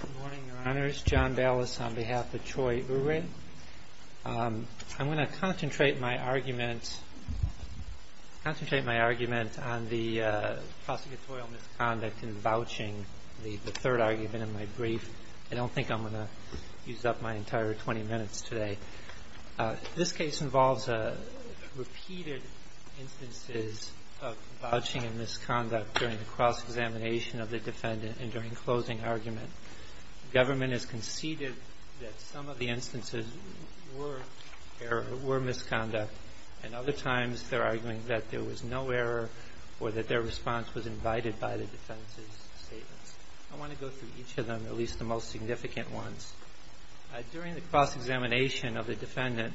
Good morning, your honors. John Ballas on behalf of Troy Urie. I'm going to concentrate my argument on the prosecutorial misconduct in vouching, the third argument in my brief. I don't think I'm going to use up my entire 20 minutes today. This case involves repeated instances of vouching and misconduct during the cross-examination of the defendant and during closing argument. The government has conceded that some of the instances were misconduct and other times they're arguing that there was no error or that their response was invited by the defendant's statements. I want to go through each of them, at least the most significant ones. During the cross-examination of the defendant,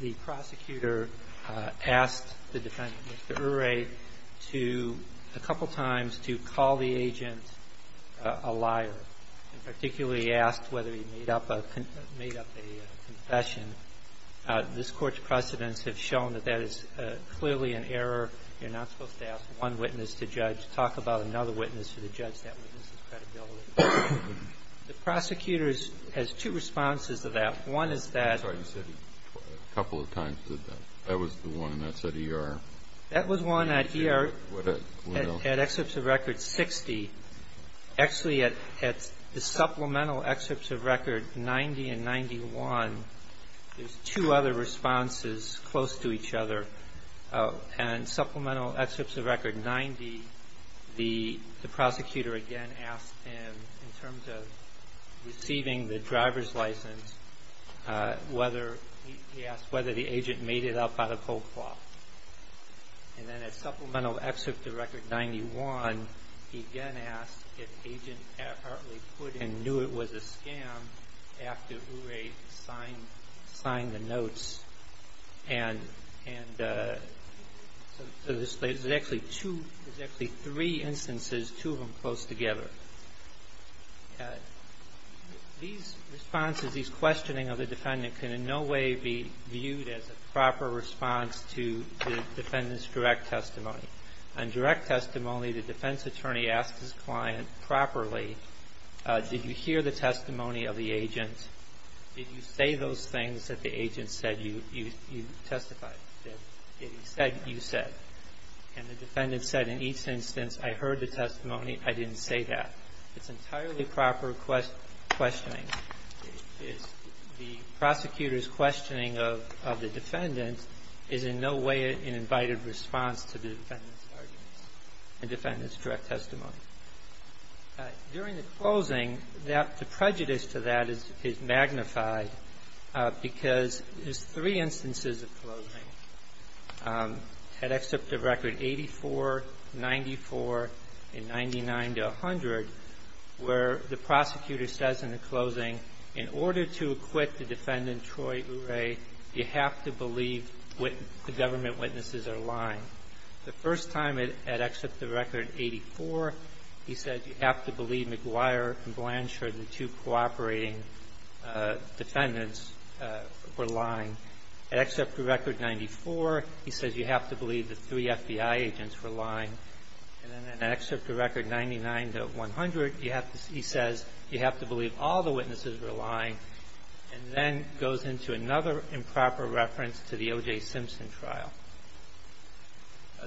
the prosecutor asked the defendant, Mr. Urie, to, a couple times, to call the agent a liar, and particularly asked whether he made up a confession. This Court's precedents have shown that that is clearly an error. You're not supposed to ask one witness to judge. Talk about another witness for the Prosecutor has two responses to that. One is that I'm sorry, you said a couple of times, did you? That was the one that said E.R.? That was one at E.R. at excerpts of record 60. Actually, at the supplemental excerpts of record 90 and 91, there's two other responses close to each other. And supplemental excerpts of record 90, the prosecutor again asked him, in terms of receiving the driver's license, whether he asked whether the agent made it up out of whole cloth. And then at supplemental excerpts of record 91, he again asked if agent Hartley put in knew it was a scam after Urie signed the notes. And so there's actually two, there's actually three instances, two of them close together. These responses, these questioning of the defendant can in no way be viewed as a proper response to the defendant's direct testimony. On direct testimony, the defense attorney asked his client properly, did you hear the testimony of the agent? Did you say those things that the agent said you testified? Did he say what you said? And the defendant said in each instance, I heard the testimony, I didn't say that. It's entirely proper questioning. The prosecutor's questioning of the defendant is in no way an invited response to the defendant. During the closing, the prejudice to that is magnified because there's three instances of closing, at excerpt of record 84, 94, and 99 to 100, where the prosecutor says in the closing, in order to acquit the defendant, Troy Urie, you have to believe the government witnesses are lying. The first time at excerpt of record 84, he said you have to believe McGuire and Blanchard, the two cooperating defendants, were lying. At excerpt of record 94, he says you have to believe the three FBI agents were lying. And then at excerpt of record 99 to 100, you have to, he says, you have to believe all the witnesses were lying, and then goes into another improper reference to the O.J. Simpson trial.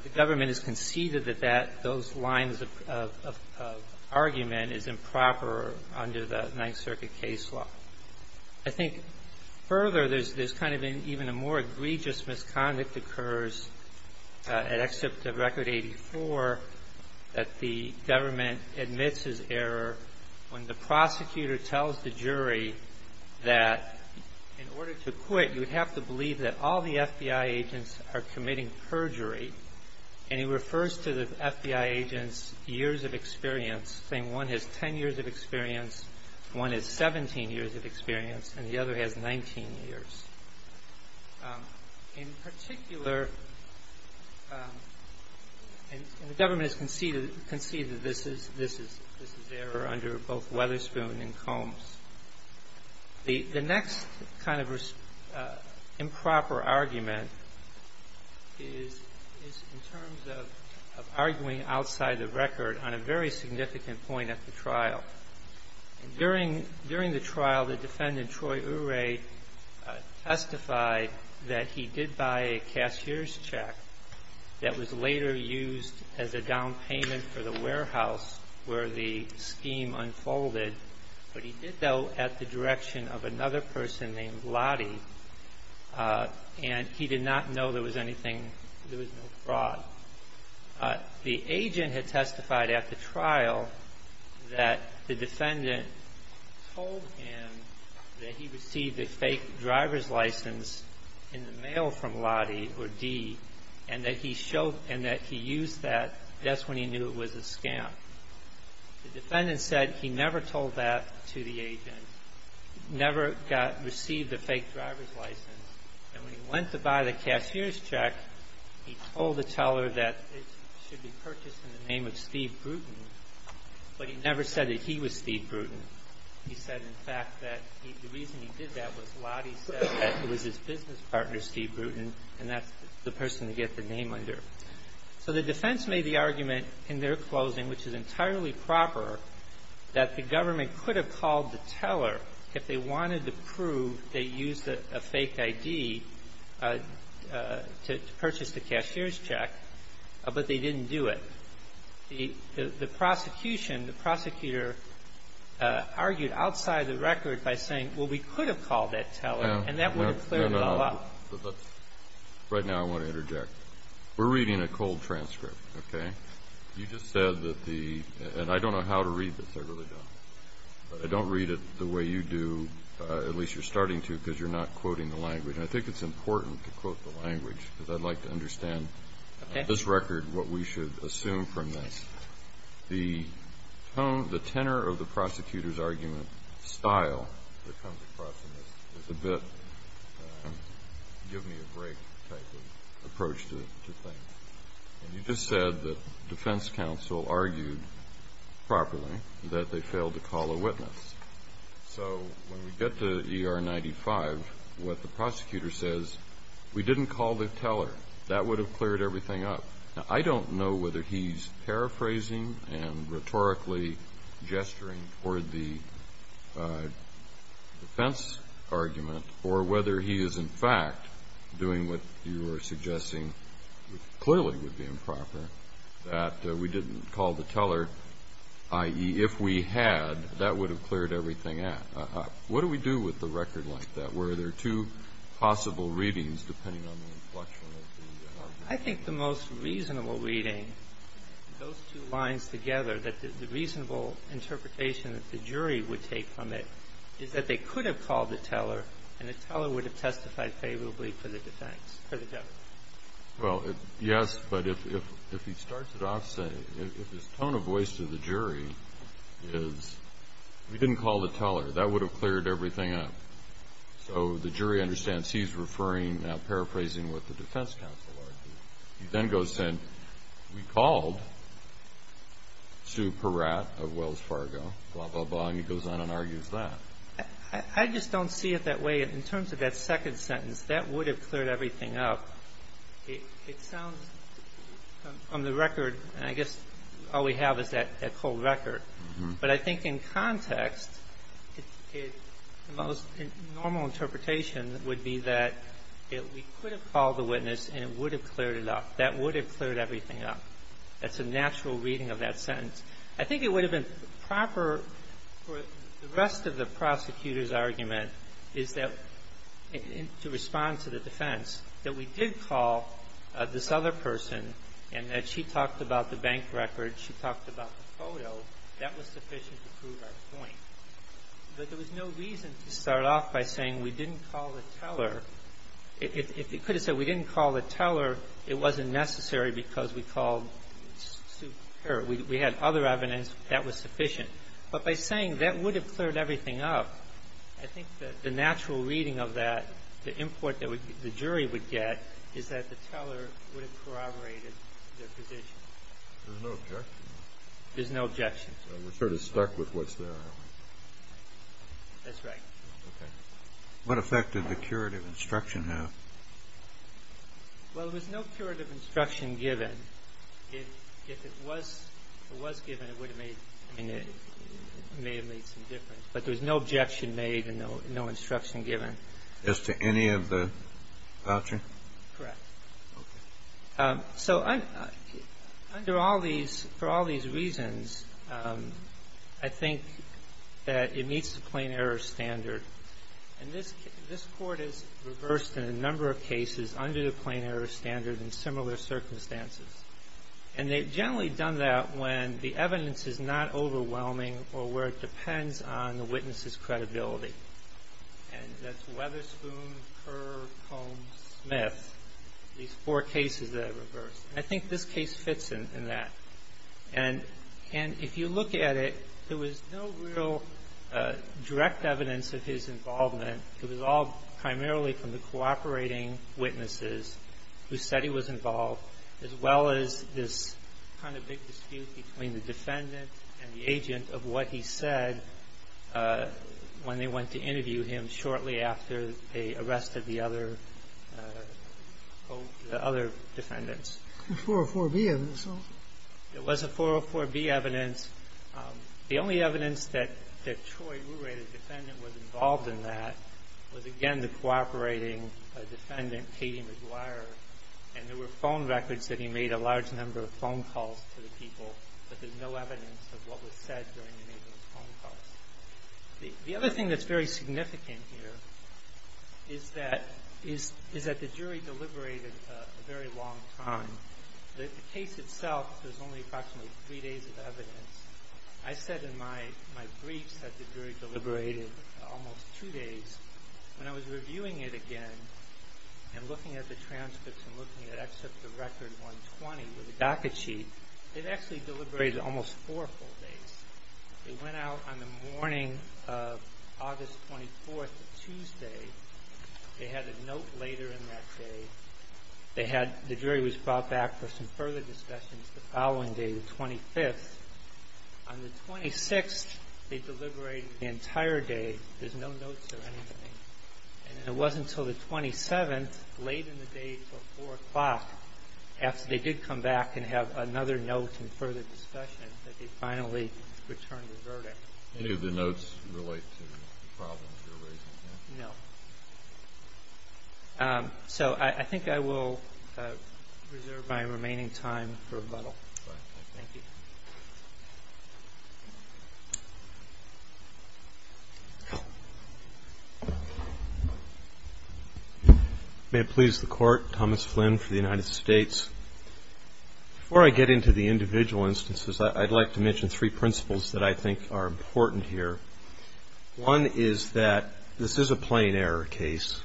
The government has conceded that that, those lines of argument is improper under the Ninth Circuit case law. I think further, there's kind of even a more egregious misconduct occurs at excerpt of record 84 that the government admits his error when the prosecutor tells the jury that in order to acquit, you have to believe that all the FBI agents are committing perjury. And he refers to the FBI agents' years of experience, saying one has 10 years of experience, one has 17 years of experience, and the other has 19 years. In particular, and the government has conceded, conceded this is, this is not the case. The next kind of improper argument is in terms of arguing outside the record on a very significant point at the trial. During the trial, the defendant, Troy Urey, testified that he did buy a cashier's check that was later used as a down payment for the warehouse where the scheme unfolded. But he did, though, at the direction of another person named Lottie, and he did not know there was anything, there was no fraud. The agent had testified at the trial that the defendant told him that he received a fake driver's license in the mail from Lottie, or Dee, and that he showed, and that he used that. That's when he knew it was a scam. The defendant said he never told that to the agent, never got, received a fake driver's license. And when he went to buy the cashier's check, he told the teller that it should be purchased in the name of Steve Bruton, but he never said that he was Steve Bruton. He said, in fact, that the reason he did that was Lottie said that it was his business partner, Steve Bruton, and that's the person to get the name under. So the defense made the argument in their closing, which is entirely proper, that the government could have called the teller if they wanted to prove they used a fake ID to purchase the cashier's check, but they didn't do it. The prosecution, the prosecutor, argued outside the record by saying, well, we could have called that teller, and that would have cleared it all up. Right now I want to interject. We're reading a cold transcript, okay? You just said that the, and I don't know how to read this, I really don't. I don't read it the way you do, at least you're starting to, because you're not quoting the language. And I think it's important to quote the language, because I'd like to understand this record, what we should assume from this. The tone, the tenor of the prosecutor's argument style that comes across in this is a bit give me a break type of approach to things. And you just said that defense counsel argued properly that they failed to call a witness. So when we get to ER 95, what the prosecutor says, we didn't call the teller. That would have cleared everything up. Now, I don't know whether he's paraphrasing and rhetorically gesturing toward the defense argument, or whether he is in fact doing what you are suggesting clearly would be improper, that we didn't call the teller, i.e., if we had, that would have cleared everything up. What do we do with a record like that, where there are two possible readings, depending on the inflection of the argument? I think the most reasonable reading, those two lines together, that the reasonable interpretation that the jury would take from it is that they could have called the teller, and the teller would have testified favorably for the defense, for the government. Well, yes, but if he starts it off saying, if his tone of voice to the jury is, we didn't call the teller. That would have cleared everything up. So the jury understands he's referring, paraphrasing what the defense counsel argued. He then goes and said, we called Sue Peratt of Wells Fargo, blah, blah, blah. And he goes on and argues that. I just don't see it that way. In terms of that second sentence, that would have cleared everything up, it sounds, on the record, and I guess all we have is that cold record. But I think in context, the most normal interpretation would be that we could have called the witness, and it would have cleared it up. That would have cleared everything up. That's a natural reading of that sentence. I think it would have been proper for the rest of the prosecutor's argument is that, to respond to the defense, that we did call this other person and that she talked about the bank record, she talked about the photo. That was sufficient to prove our point. But there was no reason to start off by saying we didn't call the teller. If you could have said we didn't call the teller, it wasn't necessary because we called Sue Peratt. We had other evidence that was sufficient. But by saying that would have cleared everything up, I think that the natural reading of that, the import that the jury would get, is that the teller would have corroborated their position. There's no objection. There's no objection. We're sort of stuck with what's there. That's right. Okay. What effect did the curative instruction have? Well, there was no curative instruction given. If it was given, it would have made some difference. But there was no objection made and no instruction given. As to any of the voucher? Correct. Okay. So under all these reasons, I think that it meets the plain error standard. And this Court has reversed in a number of cases under the plain error standard in similar circumstances. And they've generally done that when the evidence is not overwhelming or where it depends on the witness's credibility. And that's Weatherspoon, Kerr, Combs, Smith, these four cases that I reversed. And I think this case fits in that. And if you look at it, there was no real direct evidence of his involvement. It was all primarily from the cooperating witnesses who said he was involved, as well as this kind of big dispute between the defendant and the agent of what he said when they went to interview him shortly after they arrested the other defendants. The 404B evidence? It was a 404B evidence. The only evidence that Troy Ruray, the defendant, was involved in that was, again, the cooperating defendant, Katie McGuire. And there were phone records that he made a large number of phone calls to the people. But there's no evidence of what was said during any of those phone calls. The other thing that's very significant here is that the jury deliberated a very long time. The case itself, there's only approximately three days of evidence. I said in my briefs that the jury deliberated almost two days. When I was reviewing it again and looking at the transcripts and looking at Excerpt of Record 120 with the docket sheet, it actually deliberated almost four full days. It went out on the morning of August 24th, Tuesday. They had a note later in that day. The jury was brought back for some further discussions the following day, the 25th. On the 26th, they deliberated the entire day. There's no notes or anything. And it wasn't until the 27th, late in the day until 4 o'clock, after they did come back and have another note and further discussion, that they finally returned the verdict. Any of the notes relate to the problems you're raising here? No. So I think I will reserve my remaining time for rebuttal. Thank you. May it please the Court. Thomas Flynn for the United States. Before I get into the individual instances, I'd like to mention three principles that I think are important here. One is that this is a plain error case.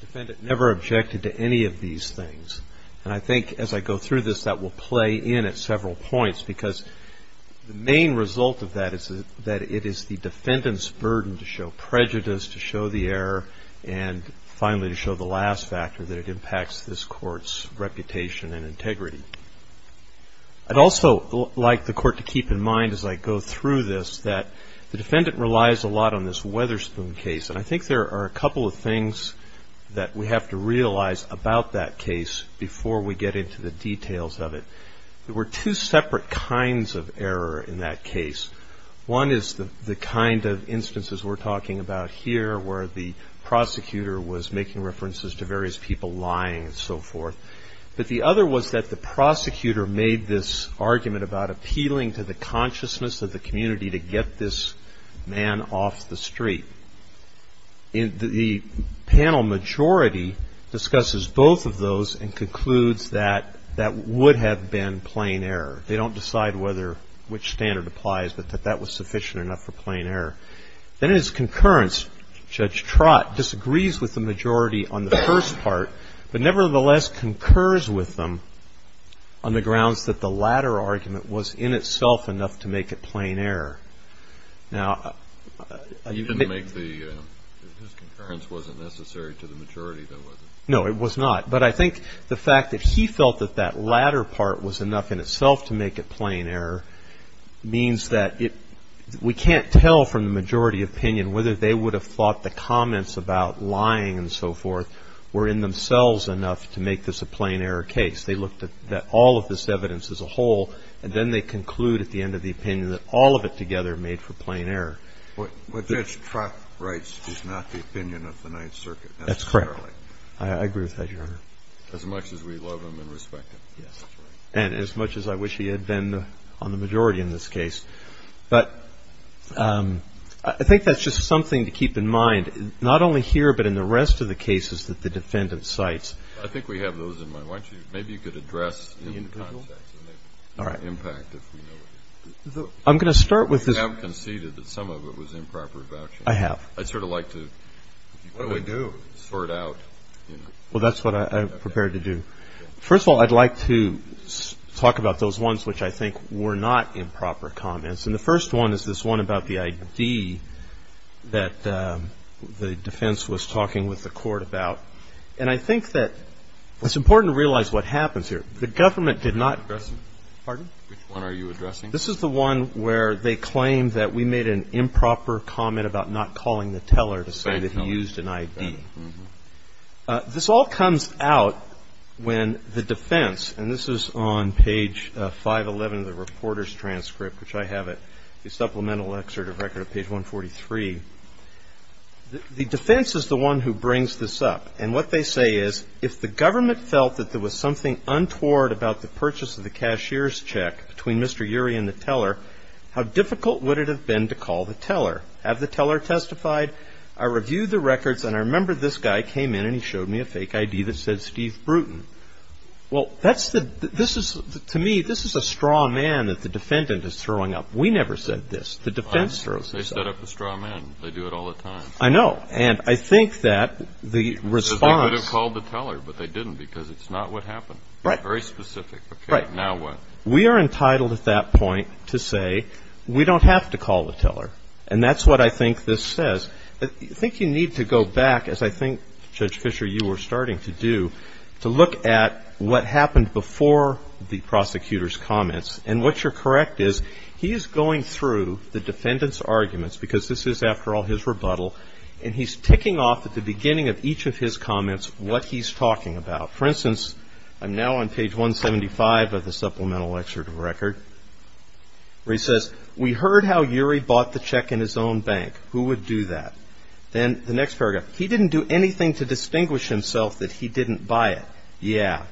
The defendant never objected to any of these things. And I think as I go through this, that will play in at several points because the main result of that is that it is the defendant's burden to show prejudice, to show the error, and finally to show the last factor, that it impacts this Court's reputation and integrity. I'd also like the Court to keep in mind as I go through this that the defendant relies a lot on this Weatherspoon case. And I think there are a couple of things that we have to realize about that case before we get into the details of it. There were two separate kinds of error in that case. One is the kind of instances we're talking about here where the prosecutor was making references to various people lying and so forth. But the other was that the prosecutor made this argument about appealing to the man off the street. The panel majority discusses both of those and concludes that that would have been plain error. They don't decide which standard applies, but that that was sufficient enough for plain error. Then in its concurrence, Judge Trott disagrees with the majority on the first part, but nevertheless concurs with them on the grounds that the latter argument was in itself enough to make it plain error. Now, I think... He didn't make the... His concurrence wasn't necessary to the majority, though, was it? No, it was not. But I think the fact that he felt that that latter part was enough in itself to make it plain error means that we can't tell from the majority opinion whether they would have thought the comments about lying and so forth were in themselves enough to make this a plain error case. They looked at all of this evidence as a whole, and then they conclude at the end of the opinion that all of it together made for plain error. But Judge Trott writes he's not the opinion of the Ninth Circuit necessarily. That's correct. I agree with that, Your Honor. As much as we love him and respect him. Yes. And as much as I wish he had been on the majority in this case. But I think that's just something to keep in mind, not only here, but in the rest of the cases that the defendant cites. I think we have those in mind. Why don't you – maybe you could address in the context. All right. I'm going to start with this. You have conceded that some of it was improper vouching. I have. I'd sort of like to. What do we do? Sort out. Well, that's what I'm prepared to do. First of all, I'd like to talk about those ones which I think were not improper comments. And the first one is this one about the ID that the defense was talking with the court about. And I think that it's important to realize what happens here. The government did not. Pardon? Which one are you addressing? This is the one where they claim that we made an improper comment about not calling the teller to say that he used an ID. This all comes out when the defense, and this is on page 511 of the reporter's transcript, which I have at the supplemental excerpt of record of page 143. The defense is the one who brings this up. And what they say is if the government felt that there was something untoward about the purchase of the cashier's check between Mr. Urey and the teller, how difficult would it have been to call the teller? Have the teller testified? I reviewed the records, and I remember this guy came in, and he showed me a fake ID that said Steve Bruton. Well, that's the to me, this is a straw man that the defendant is throwing up. We never said this. The defense throws this up. They set up a straw man. They do it all the time. I know. And I think that the response. They could have called the teller, but they didn't because it's not what they're looking for. They're looking for something specific. Right. Now what? We are entitled at that point to say we don't have to call the teller. And that's what I think this says. I think you need to go back, as I think, Judge Fischer, you were starting to do, to look at what happened before the prosecutor's comments. And what you're correct is he is going through the defendant's arguments, because this is, after all, his rebuttal, and he's ticking off at the beginning of each of his comments what he's talking about. For instance, I'm now on page 175 of the supplemental excerpt of the record, where he says, we heard how Urie bought the check in his own bank. Who would do that? Then the next paragraph, he didn't do anything to distinguish himself that he didn't buy it. Yeah.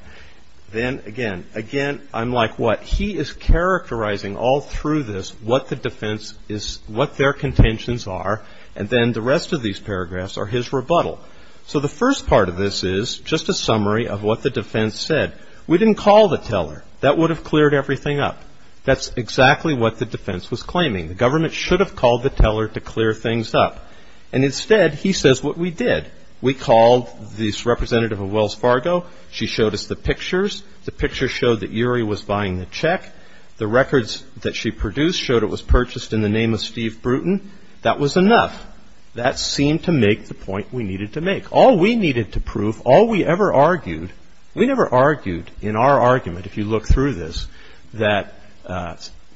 Then again, again, I'm like, what? He is characterizing all through this what the defense is, what their contentions are, and then the rest of these paragraphs are his rebuttal. So the first part of this is just a summary of what the defense said. We didn't call the teller. That would have cleared everything up. That's exactly what the defense was claiming. The government should have called the teller to clear things up. And instead, he says what we did. We called this representative of Wells Fargo. She showed us the pictures. The pictures showed that Urie was buying the check. The records that she produced showed it was purchased in the name of Steve Bruton. That was enough. That seemed to make the point we needed to make. All we needed to prove, all we ever argued, we never argued in our argument, if you look through this, that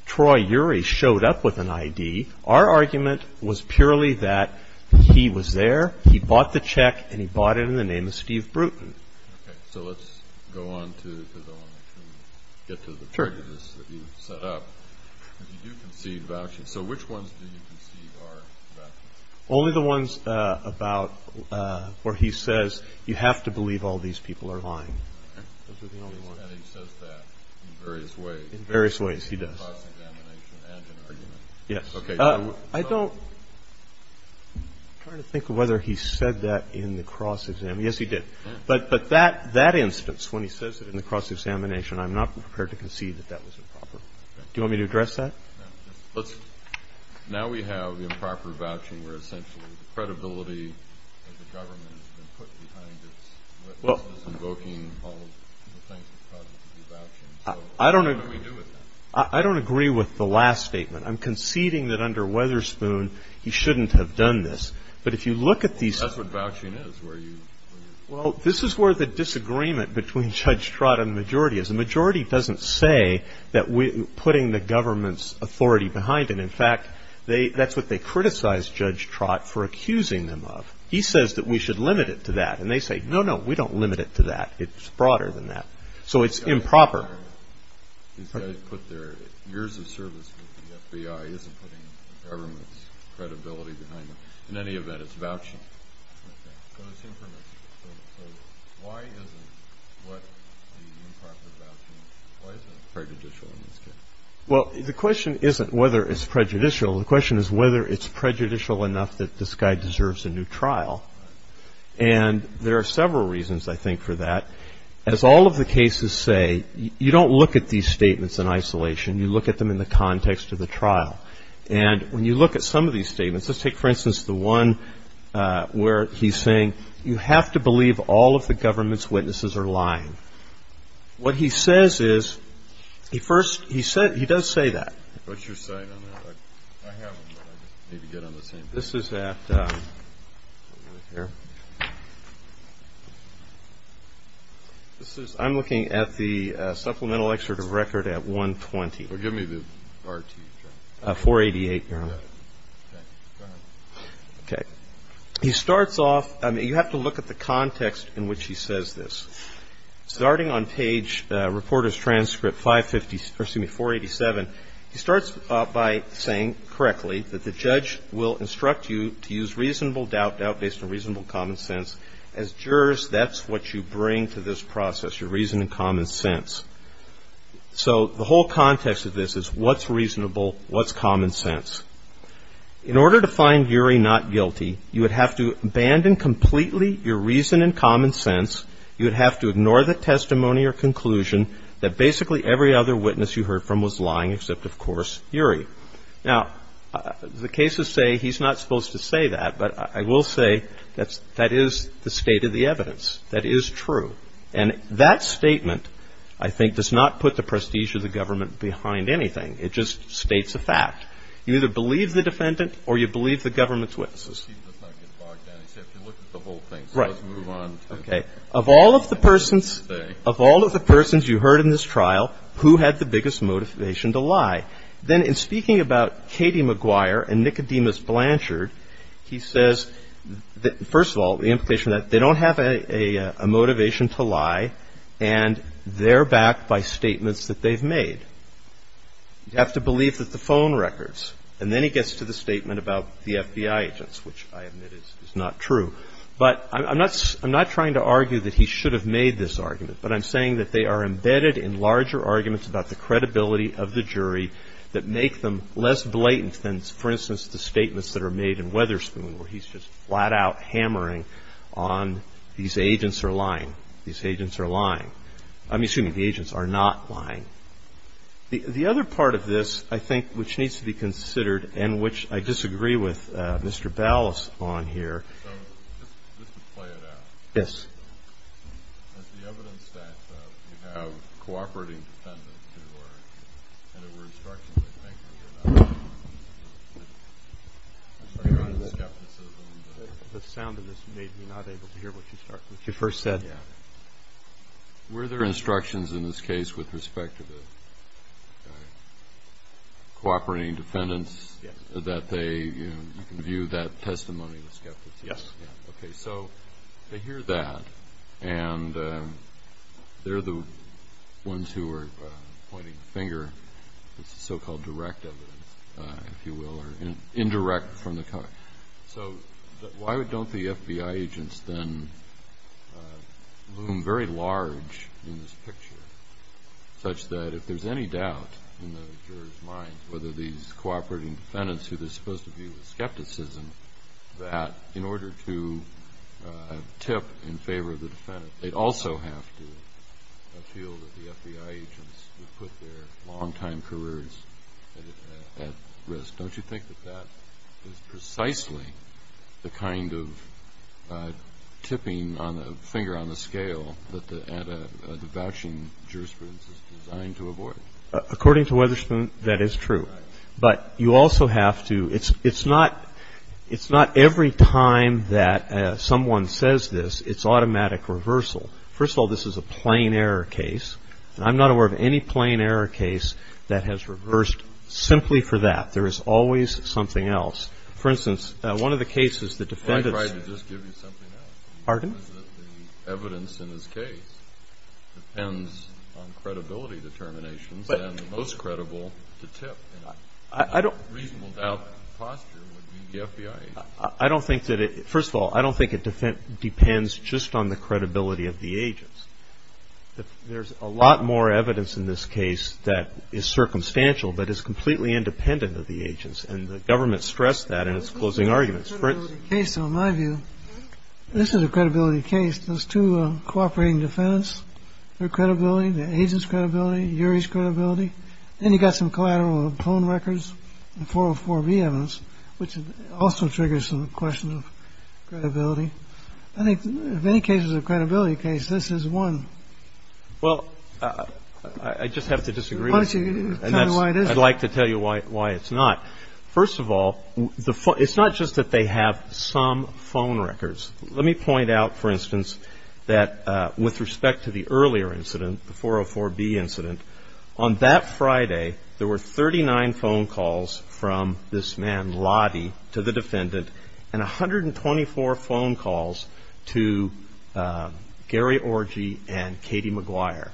Troy Urie showed up with an ID. Our argument was purely that he was there, he bought the check, and he bought it in the name of Steve Bruton. Okay, so let's go on to, because I want to get to the prejudice that you set up. You do concede vouchers. So which ones do you concede are vouchers? Only the ones about where he says you have to believe all these people are lying. Okay. And he says that in various ways. In various ways, he does. In the cross-examination and in argument. Yes. Okay. I don't, I'm trying to think of whether he said that in the cross-examination. Yes, he did. But that instance, when he says it in the cross-examination, I'm not prepared to concede that that was improper. Okay. Do you want me to address that? No. Let's, now we have improper vouching where essentially the credibility of the government has been put behind it. Well. Invoking all the things that caused it to be vouching. I don't agree. What do we do with that? I don't agree with the last statement. I'm conceding that under Weatherspoon, he shouldn't have done this. But if you look at these. That's what vouching is, where you. Well, this is where the disagreement between Judge Trott and the majority is. The majority doesn't say that we're putting the government's authority behind it. In fact, that's what they criticized Judge Trott for accusing them of. He says that we should limit it to that. And they say, no, no, we don't limit it to that. It's broader than that. So it's improper. These guys put their years of service with the FBI. He isn't putting the government's credibility behind it. In any event, it's vouching. Okay. So why isn't what the improper vouching, why isn't it prejudicial in this case? Well, the question isn't whether it's prejudicial. The question is whether it's prejudicial enough that this guy deserves a new trial. And there are several reasons, I think, for that. As all of the cases say, you don't look at these statements in isolation. You look at them in the context of the trial. And when you look at some of these statements, let's just take, for instance, the one where he's saying, you have to believe all of the government's witnesses are lying. What he says is, he first, he does say that. What's your site on that? I have one, but I need to get on the same page. This is at, here. This is, I'm looking at the supplemental excerpt of record at 120. Well, give me the RTE chart. 488, Your Honor. Go ahead. Okay. He starts off, I mean, you have to look at the context in which he says this. Starting on page, reporter's transcript 550, or excuse me, 487, he starts off by saying correctly that the judge will instruct you to use reasonable doubt, doubt based on reasonable common sense. As jurors, that's what you bring to this process, your reason and common sense. So the whole context of this is what's reasonable, what's common sense. In order to find Uri not guilty, you would have to abandon completely your reason and common sense. You would have to ignore the testimony or conclusion that basically every other witness you heard from was lying, except, of course, Uri. Now, the cases say he's not supposed to say that, but I will say that is the state of the evidence. That is true. And that statement, I think, does not put the prestige of the government behind anything. It just states a fact. You either believe the defendant or you believe the government's witnesses. He does not get bogged down. He said if you look at the whole thing. Right. So let's move on. Okay. Of all of the persons you heard in this trial, who had the biggest motivation to lie? Then in speaking about Katie McGuire and Nicodemus Blanchard, he says, first of all, the implication that they don't have a motivation to lie and they're backed by statements that they've made. You have to believe that the phone records. And then he gets to the statement about the FBI agents, which I admit is not true. But I'm not trying to argue that he should have made this argument, but I'm saying that they are embedded in larger arguments about the credibility of the jury that make them less blatant than, for instance, the statements that are made in Weatherspoon where he's just flat out hammering on these agents are lying. These agents are lying. I'm assuming the agents are not lying. The other part of this, I think, which needs to be considered and which I disagree with Mr. Ballas on here. So just to play it out. Yes. The sound of this made me not able to hear what you first said. Were there instructions in this case with respect to the cooperating defendants that they view that testimony as skepticism? Yes. Okay. So they hear that, and they're the ones who are pointing the finger. It's the so-called direct evidence, if you will, or indirect from the cover. So why don't the FBI agents then loom very large in this picture such that if there's any doubt in the jurors' minds whether these cooperating defendants, who they're supposed to view as skepticism, that in order to tip in favor of the defendant, they'd also have to feel that the FBI agents would put their long-time careers at risk. Don't you think that that is precisely the kind of tipping finger on the scale that the vouching jurisprudence is designed to avoid? According to Weatherspoon, that is true. But you also have to – it's not every time that someone says this, it's automatic reversal. First of all, this is a plain error case. And I'm not aware of any plain error case that has reversed simply for that. There is always something else. For instance, one of the cases the defendants – Well, I tried to just give you something else. Pardon? First of all, I don't think it depends just on the credibility of the agents. There's a lot more evidence in this case that is circumstantial but is completely independent of the agents. And the government stressed that in its closing arguments. This is a credibility case, in my view. This is a credibility case. Those two cooperating defendants, their credibility, the agents' credibility, URI's credibility. Then you've got some collateral phone records and 404B evidence, which also triggers some questions of credibility. I think in many cases of credibility case, this is one. Well, I just have to disagree. Why don't you tell me why it is? I'd like to tell you why it's not. First of all, it's not just that they have some phone records. Let me point out, for instance, that with respect to the earlier incident, the 404B incident, on that Friday there were 39 phone calls from this man, Lottie, to the defendant and 124 phone calls to Gary Orgy and Katie McGuire.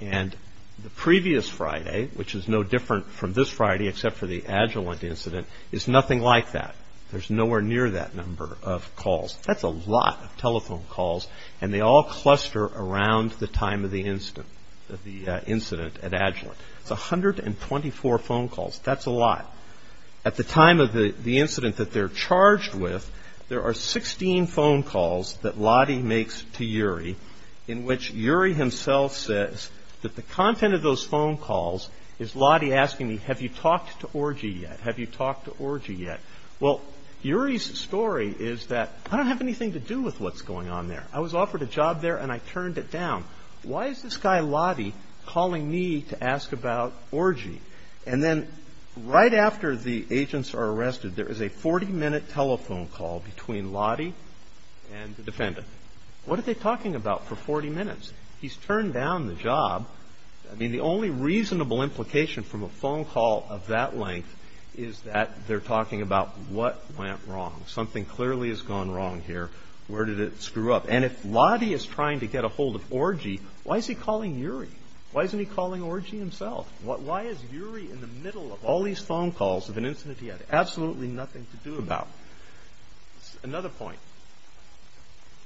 And the previous Friday, which is no different from this Friday except for the Agilent incident, is nothing like that. There's nowhere near that number of calls. That's a lot of telephone calls, and they all cluster around the time of the incident at Agilent. It's 124 phone calls. That's a lot. At the time of the incident that they're charged with, there are 16 phone calls that Lottie makes to URI, in which URI himself says that the content of those phone calls is Lottie asking me, have you talked to Orgy yet? Have you talked to Orgy yet? Well, URI's story is that I don't have anything to do with what's going on there. I was offered a job there, and I turned it down. Why is this guy Lottie calling me to ask about Orgy? And then right after the agents are arrested, there is a 40-minute telephone call between Lottie and the defendant. What are they talking about for 40 minutes? He's turned down the job. The only reasonable implication from a phone call of that length is that they're talking about what went wrong. Something clearly has gone wrong here. Where did it screw up? And if Lottie is trying to get a hold of Orgy, why is he calling URI? Why isn't he calling Orgy himself? Why is URI in the middle of all these phone calls of an incident he had absolutely nothing to do about? Another point.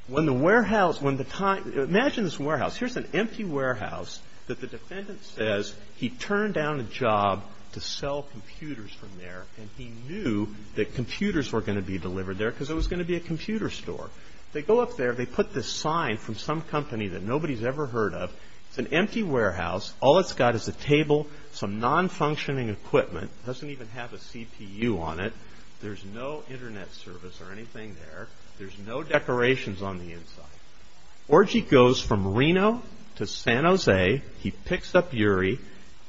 Imagine this warehouse. Here's an empty warehouse that the defendant says he turned down a job to sell computers from there, and he knew that computers were going to be delivered there because it was going to be a computer store. They go up there. They put this sign from some company that nobody's ever heard of. It's an empty warehouse. All it's got is a table, some non-functioning equipment. It doesn't even have a CPU on it. There's no Internet service or anything there. There's no decorations on the inside. Orgy goes from Reno to San Jose. He picks up URI.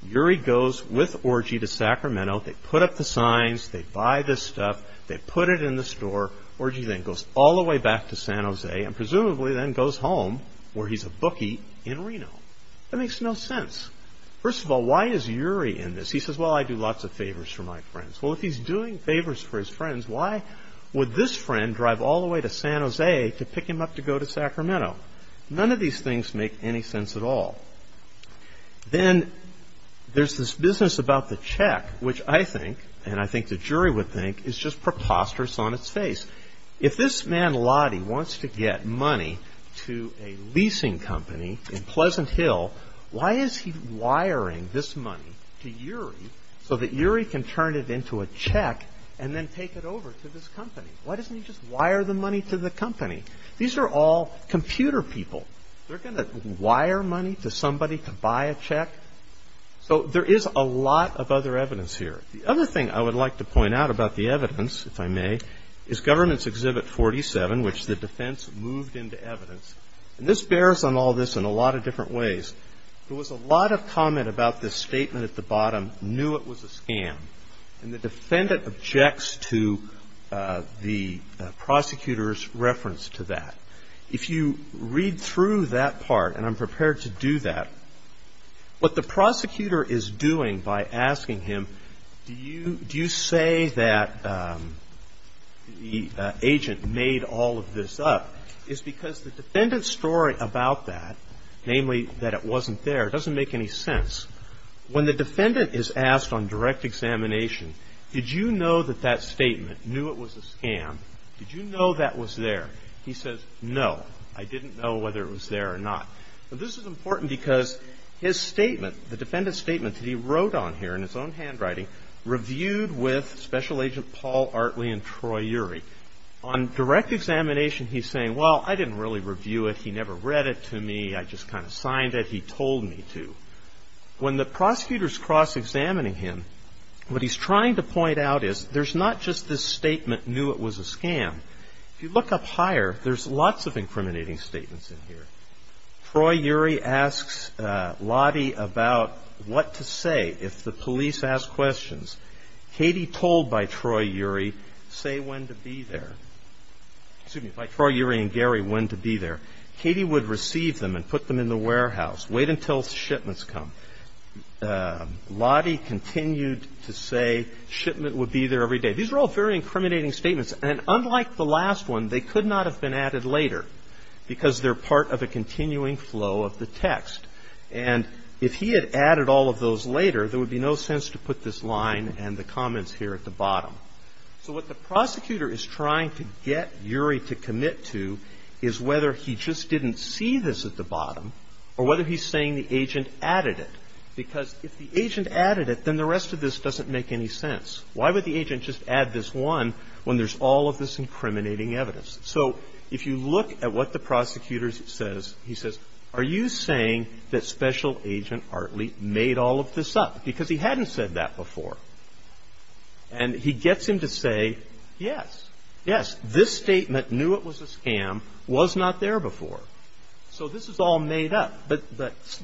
URI goes with Orgy to Sacramento. They put up the signs. They buy this stuff. They put it in the store. Orgy then goes all the way back to San Jose and presumably then goes home where he's a bookie in Reno. That makes no sense. First of all, why is URI in this? He says, well, I do lots of favors for my friends. Well, if he's doing favors for his friends, why would this friend drive all the way to San Jose to pick him up to go to Sacramento? None of these things make any sense at all. Then there's this business about the check, which I think, and I think the jury would think, is just preposterous on its face. If this man Lottie wants to get money to a leasing company in Pleasant Hill, why is he wiring this money to URI so that URI can turn it into a check and then take it over to this company? Why doesn't he just wire the money to the company? These are all computer people. They're going to wire money to somebody to buy a check? So there is a lot of other evidence here. The other thing I would like to point out about the evidence, if I may, is Government's Exhibit 47, which the defense moved into evidence. And this bears on all this in a lot of different ways. There was a lot of comment about this statement at the bottom, knew it was a scam. And the defendant objects to the prosecutor's reference to that. If you read through that part, and I'm prepared to do that, what the prosecutor is doing by asking him, do you say that the agent made all of this up? It's because the defendant's story about that, namely that it wasn't there, doesn't make any sense. When the defendant is asked on direct examination, did you know that that statement, knew it was a scam, did you know that was there? He says, no, I didn't know whether it was there or not. But this is important because his statement, the defendant's statement that he wrote on here in his own handwriting, reviewed with Special Agent Paul Artley and Troy Urey. On direct examination, he's saying, well, I didn't really review it. He never read it to me. I just kind of signed it. He told me to. When the prosecutors cross-examining him, what he's trying to point out is there's not just this statement, knew it was a scam. If you look up higher, there's lots of incriminating statements in here. Troy Urey asks Lottie about what to say if the police ask questions. Katie told by Troy Urey, say when to be there. Excuse me, by Troy Urey and Gary, when to be there. Katie would receive them and put them in the warehouse, wait until shipments come. Lottie continued to say shipment would be there every day. These are all very incriminating statements. And unlike the last one, they could not have been added later because they're part of a continuing flow of the text. And if he had added all of those later, there would be no sense to put this line and the comments here at the bottom. So what the prosecutor is trying to get Urey to commit to is whether he just didn't see this at the bottom or whether he's saying the agent added it, because if the agent added it, then the rest of this doesn't make any sense. Why would the agent just add this one when there's all of this incriminating evidence? So if you look at what the prosecutor says, he says, are you saying that Special Agent Artley made all of this up? Because he hadn't said that before. And he gets him to say, yes, yes, this statement, knew it was a scam, was not there before. So this is all made up. But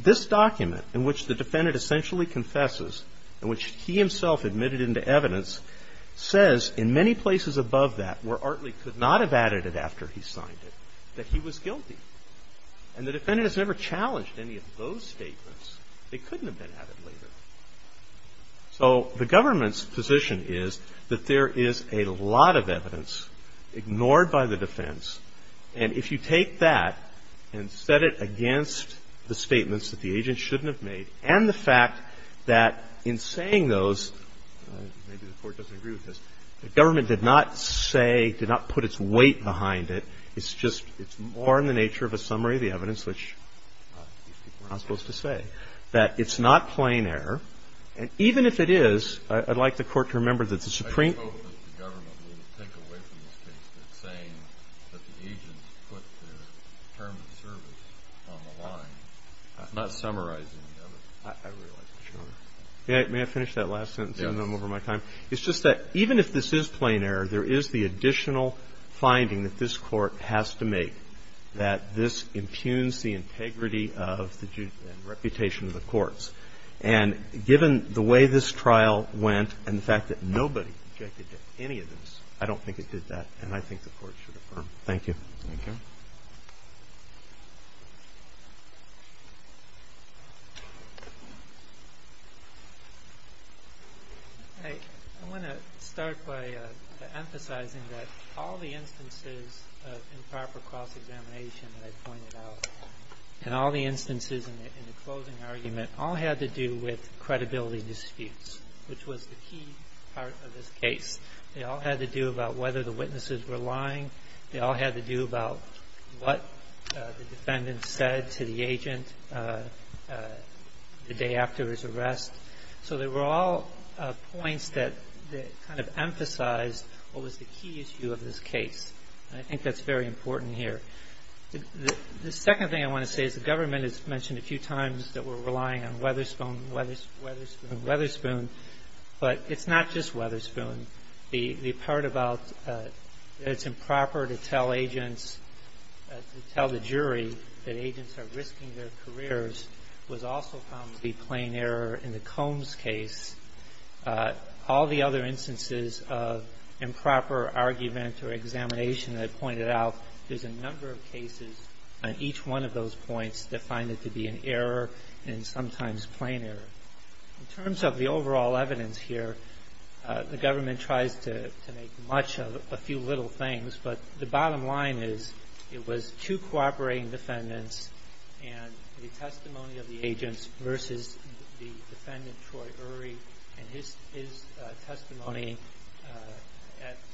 this document in which the defendant essentially confesses, in which he himself admitted into evidence, says in many places above that where Artley could not have added it after he signed it, that he was guilty. And the defendant has never challenged any of those statements. They couldn't have been added later. So the government's position is that there is a lot of evidence ignored by the defense. And if you take that and set it against the statements that the agent shouldn't have made and the fact that in saying those, maybe the Court doesn't agree with this, the government did not say, did not put its weight behind it. It's just, it's more in the nature of a summary of the evidence, which we're not supposed to say, that it's not plain error. And even if it is, I'd like the Court to remember that the Supreme Court of the government would take away from this case that saying that the agents put their term of service on the line. It's not summarizing the evidence. I realize that. Sure. May I finish that last sentence? Yes. I'm over my time. It's just that even if this is plain error, there is the additional finding that this Court has to make, that this impugns the integrity of the reputation of the courts. And given the way this trial went and the fact that nobody objected to any of this, I don't think it did that. And I think the Court should affirm. Thank you. Thank you. I want to start by emphasizing that all the instances of improper cross-examination that I pointed out and all the instances in the closing argument all had to do with credibility disputes, which was the key part of this case. They all had to do about whether the witnesses were lying. They all had to do about what the defendant said to the agent the day after his arrest. So they were all points that kind of emphasized what was the key issue of this case. And I think that's very important here. The second thing I want to say is the government has mentioned a few times that we're relying on Weatherspoon, Weatherspoon, Weatherspoon, but it's not just Weatherspoon. The part about it's improper to tell agents, to tell the jury that agents are risking their careers was also found to be plain error in the Combs case. All the other instances of improper argument or examination that I pointed out, there's a number of cases on each one of those points that find it to be an error and sometimes plain error. In terms of the overall evidence here, the government tries to make much of a few little things, but the bottom line is it was two cooperating defendants and the testimony of the agents versus the defendant, Troy Urey, and his testimony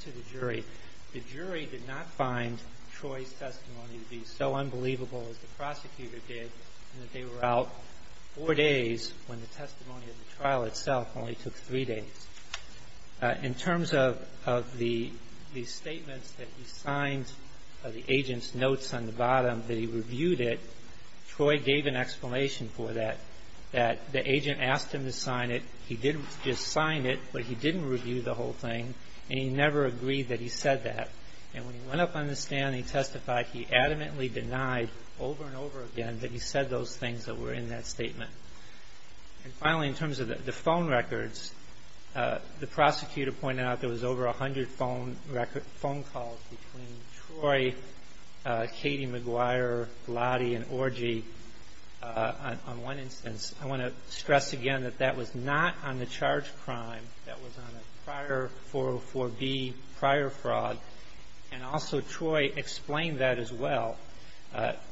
to the jury. The jury did not find Troy's testimony to be so unbelievable as the prosecutor did in that they were out four days when the testimony of the trial itself only took three days. In terms of the statements that he signed, the agent's notes on the bottom, that he reviewed it, Troy gave an explanation for that, that the agent asked him to sign it, he did just sign it, but he didn't review the whole thing and he never agreed that he said that. And when he went up on the stand and he testified, he adamantly denied over and over again that he said those things that were in that statement. And finally, in terms of the phone records, the prosecutor pointed out there was over 100 phone calls between Troy, Katie McGuire, Glady, and Orgy on one instance. I want to stress again that that was not on the charge crime. That was on a prior 404B prior fraud. And also Troy explained that as well.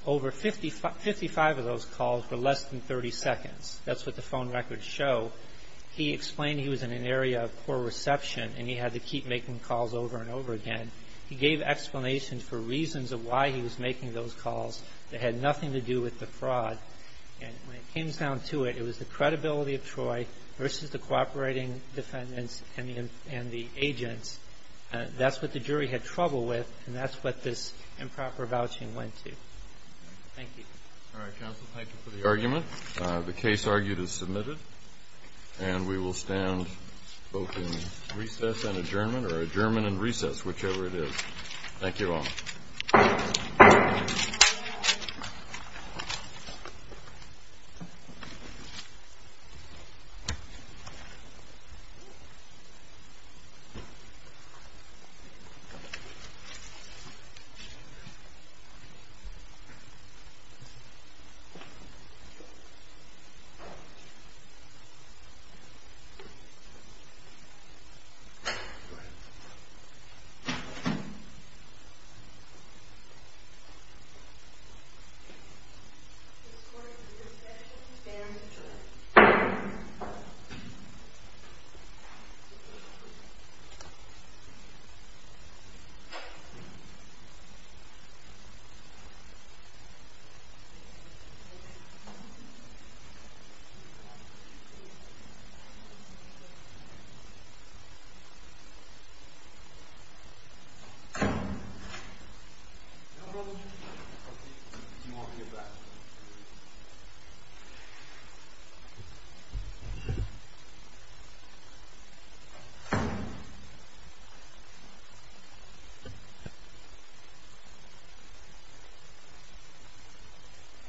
Over 55 of those calls were less than 30 seconds. That's what the phone records show. He explained he was in an area of poor reception and he had to keep making calls over and over again. He gave explanations for reasons of why he was making those calls that had nothing to do with the fraud. And when it came down to it, it was the credibility of Troy versus the cooperating defendants and the agents. That's what the jury had trouble with and that's what this improper vouching went to. Thank you. All right, counsel. Thank you for the argument. The case argued is submitted and we will stand both in recess and adjournment or adjournment and recess, whichever it is. Thank you all. Thank you. This court is in recession and adjourned. No problem. Do you want me to get back?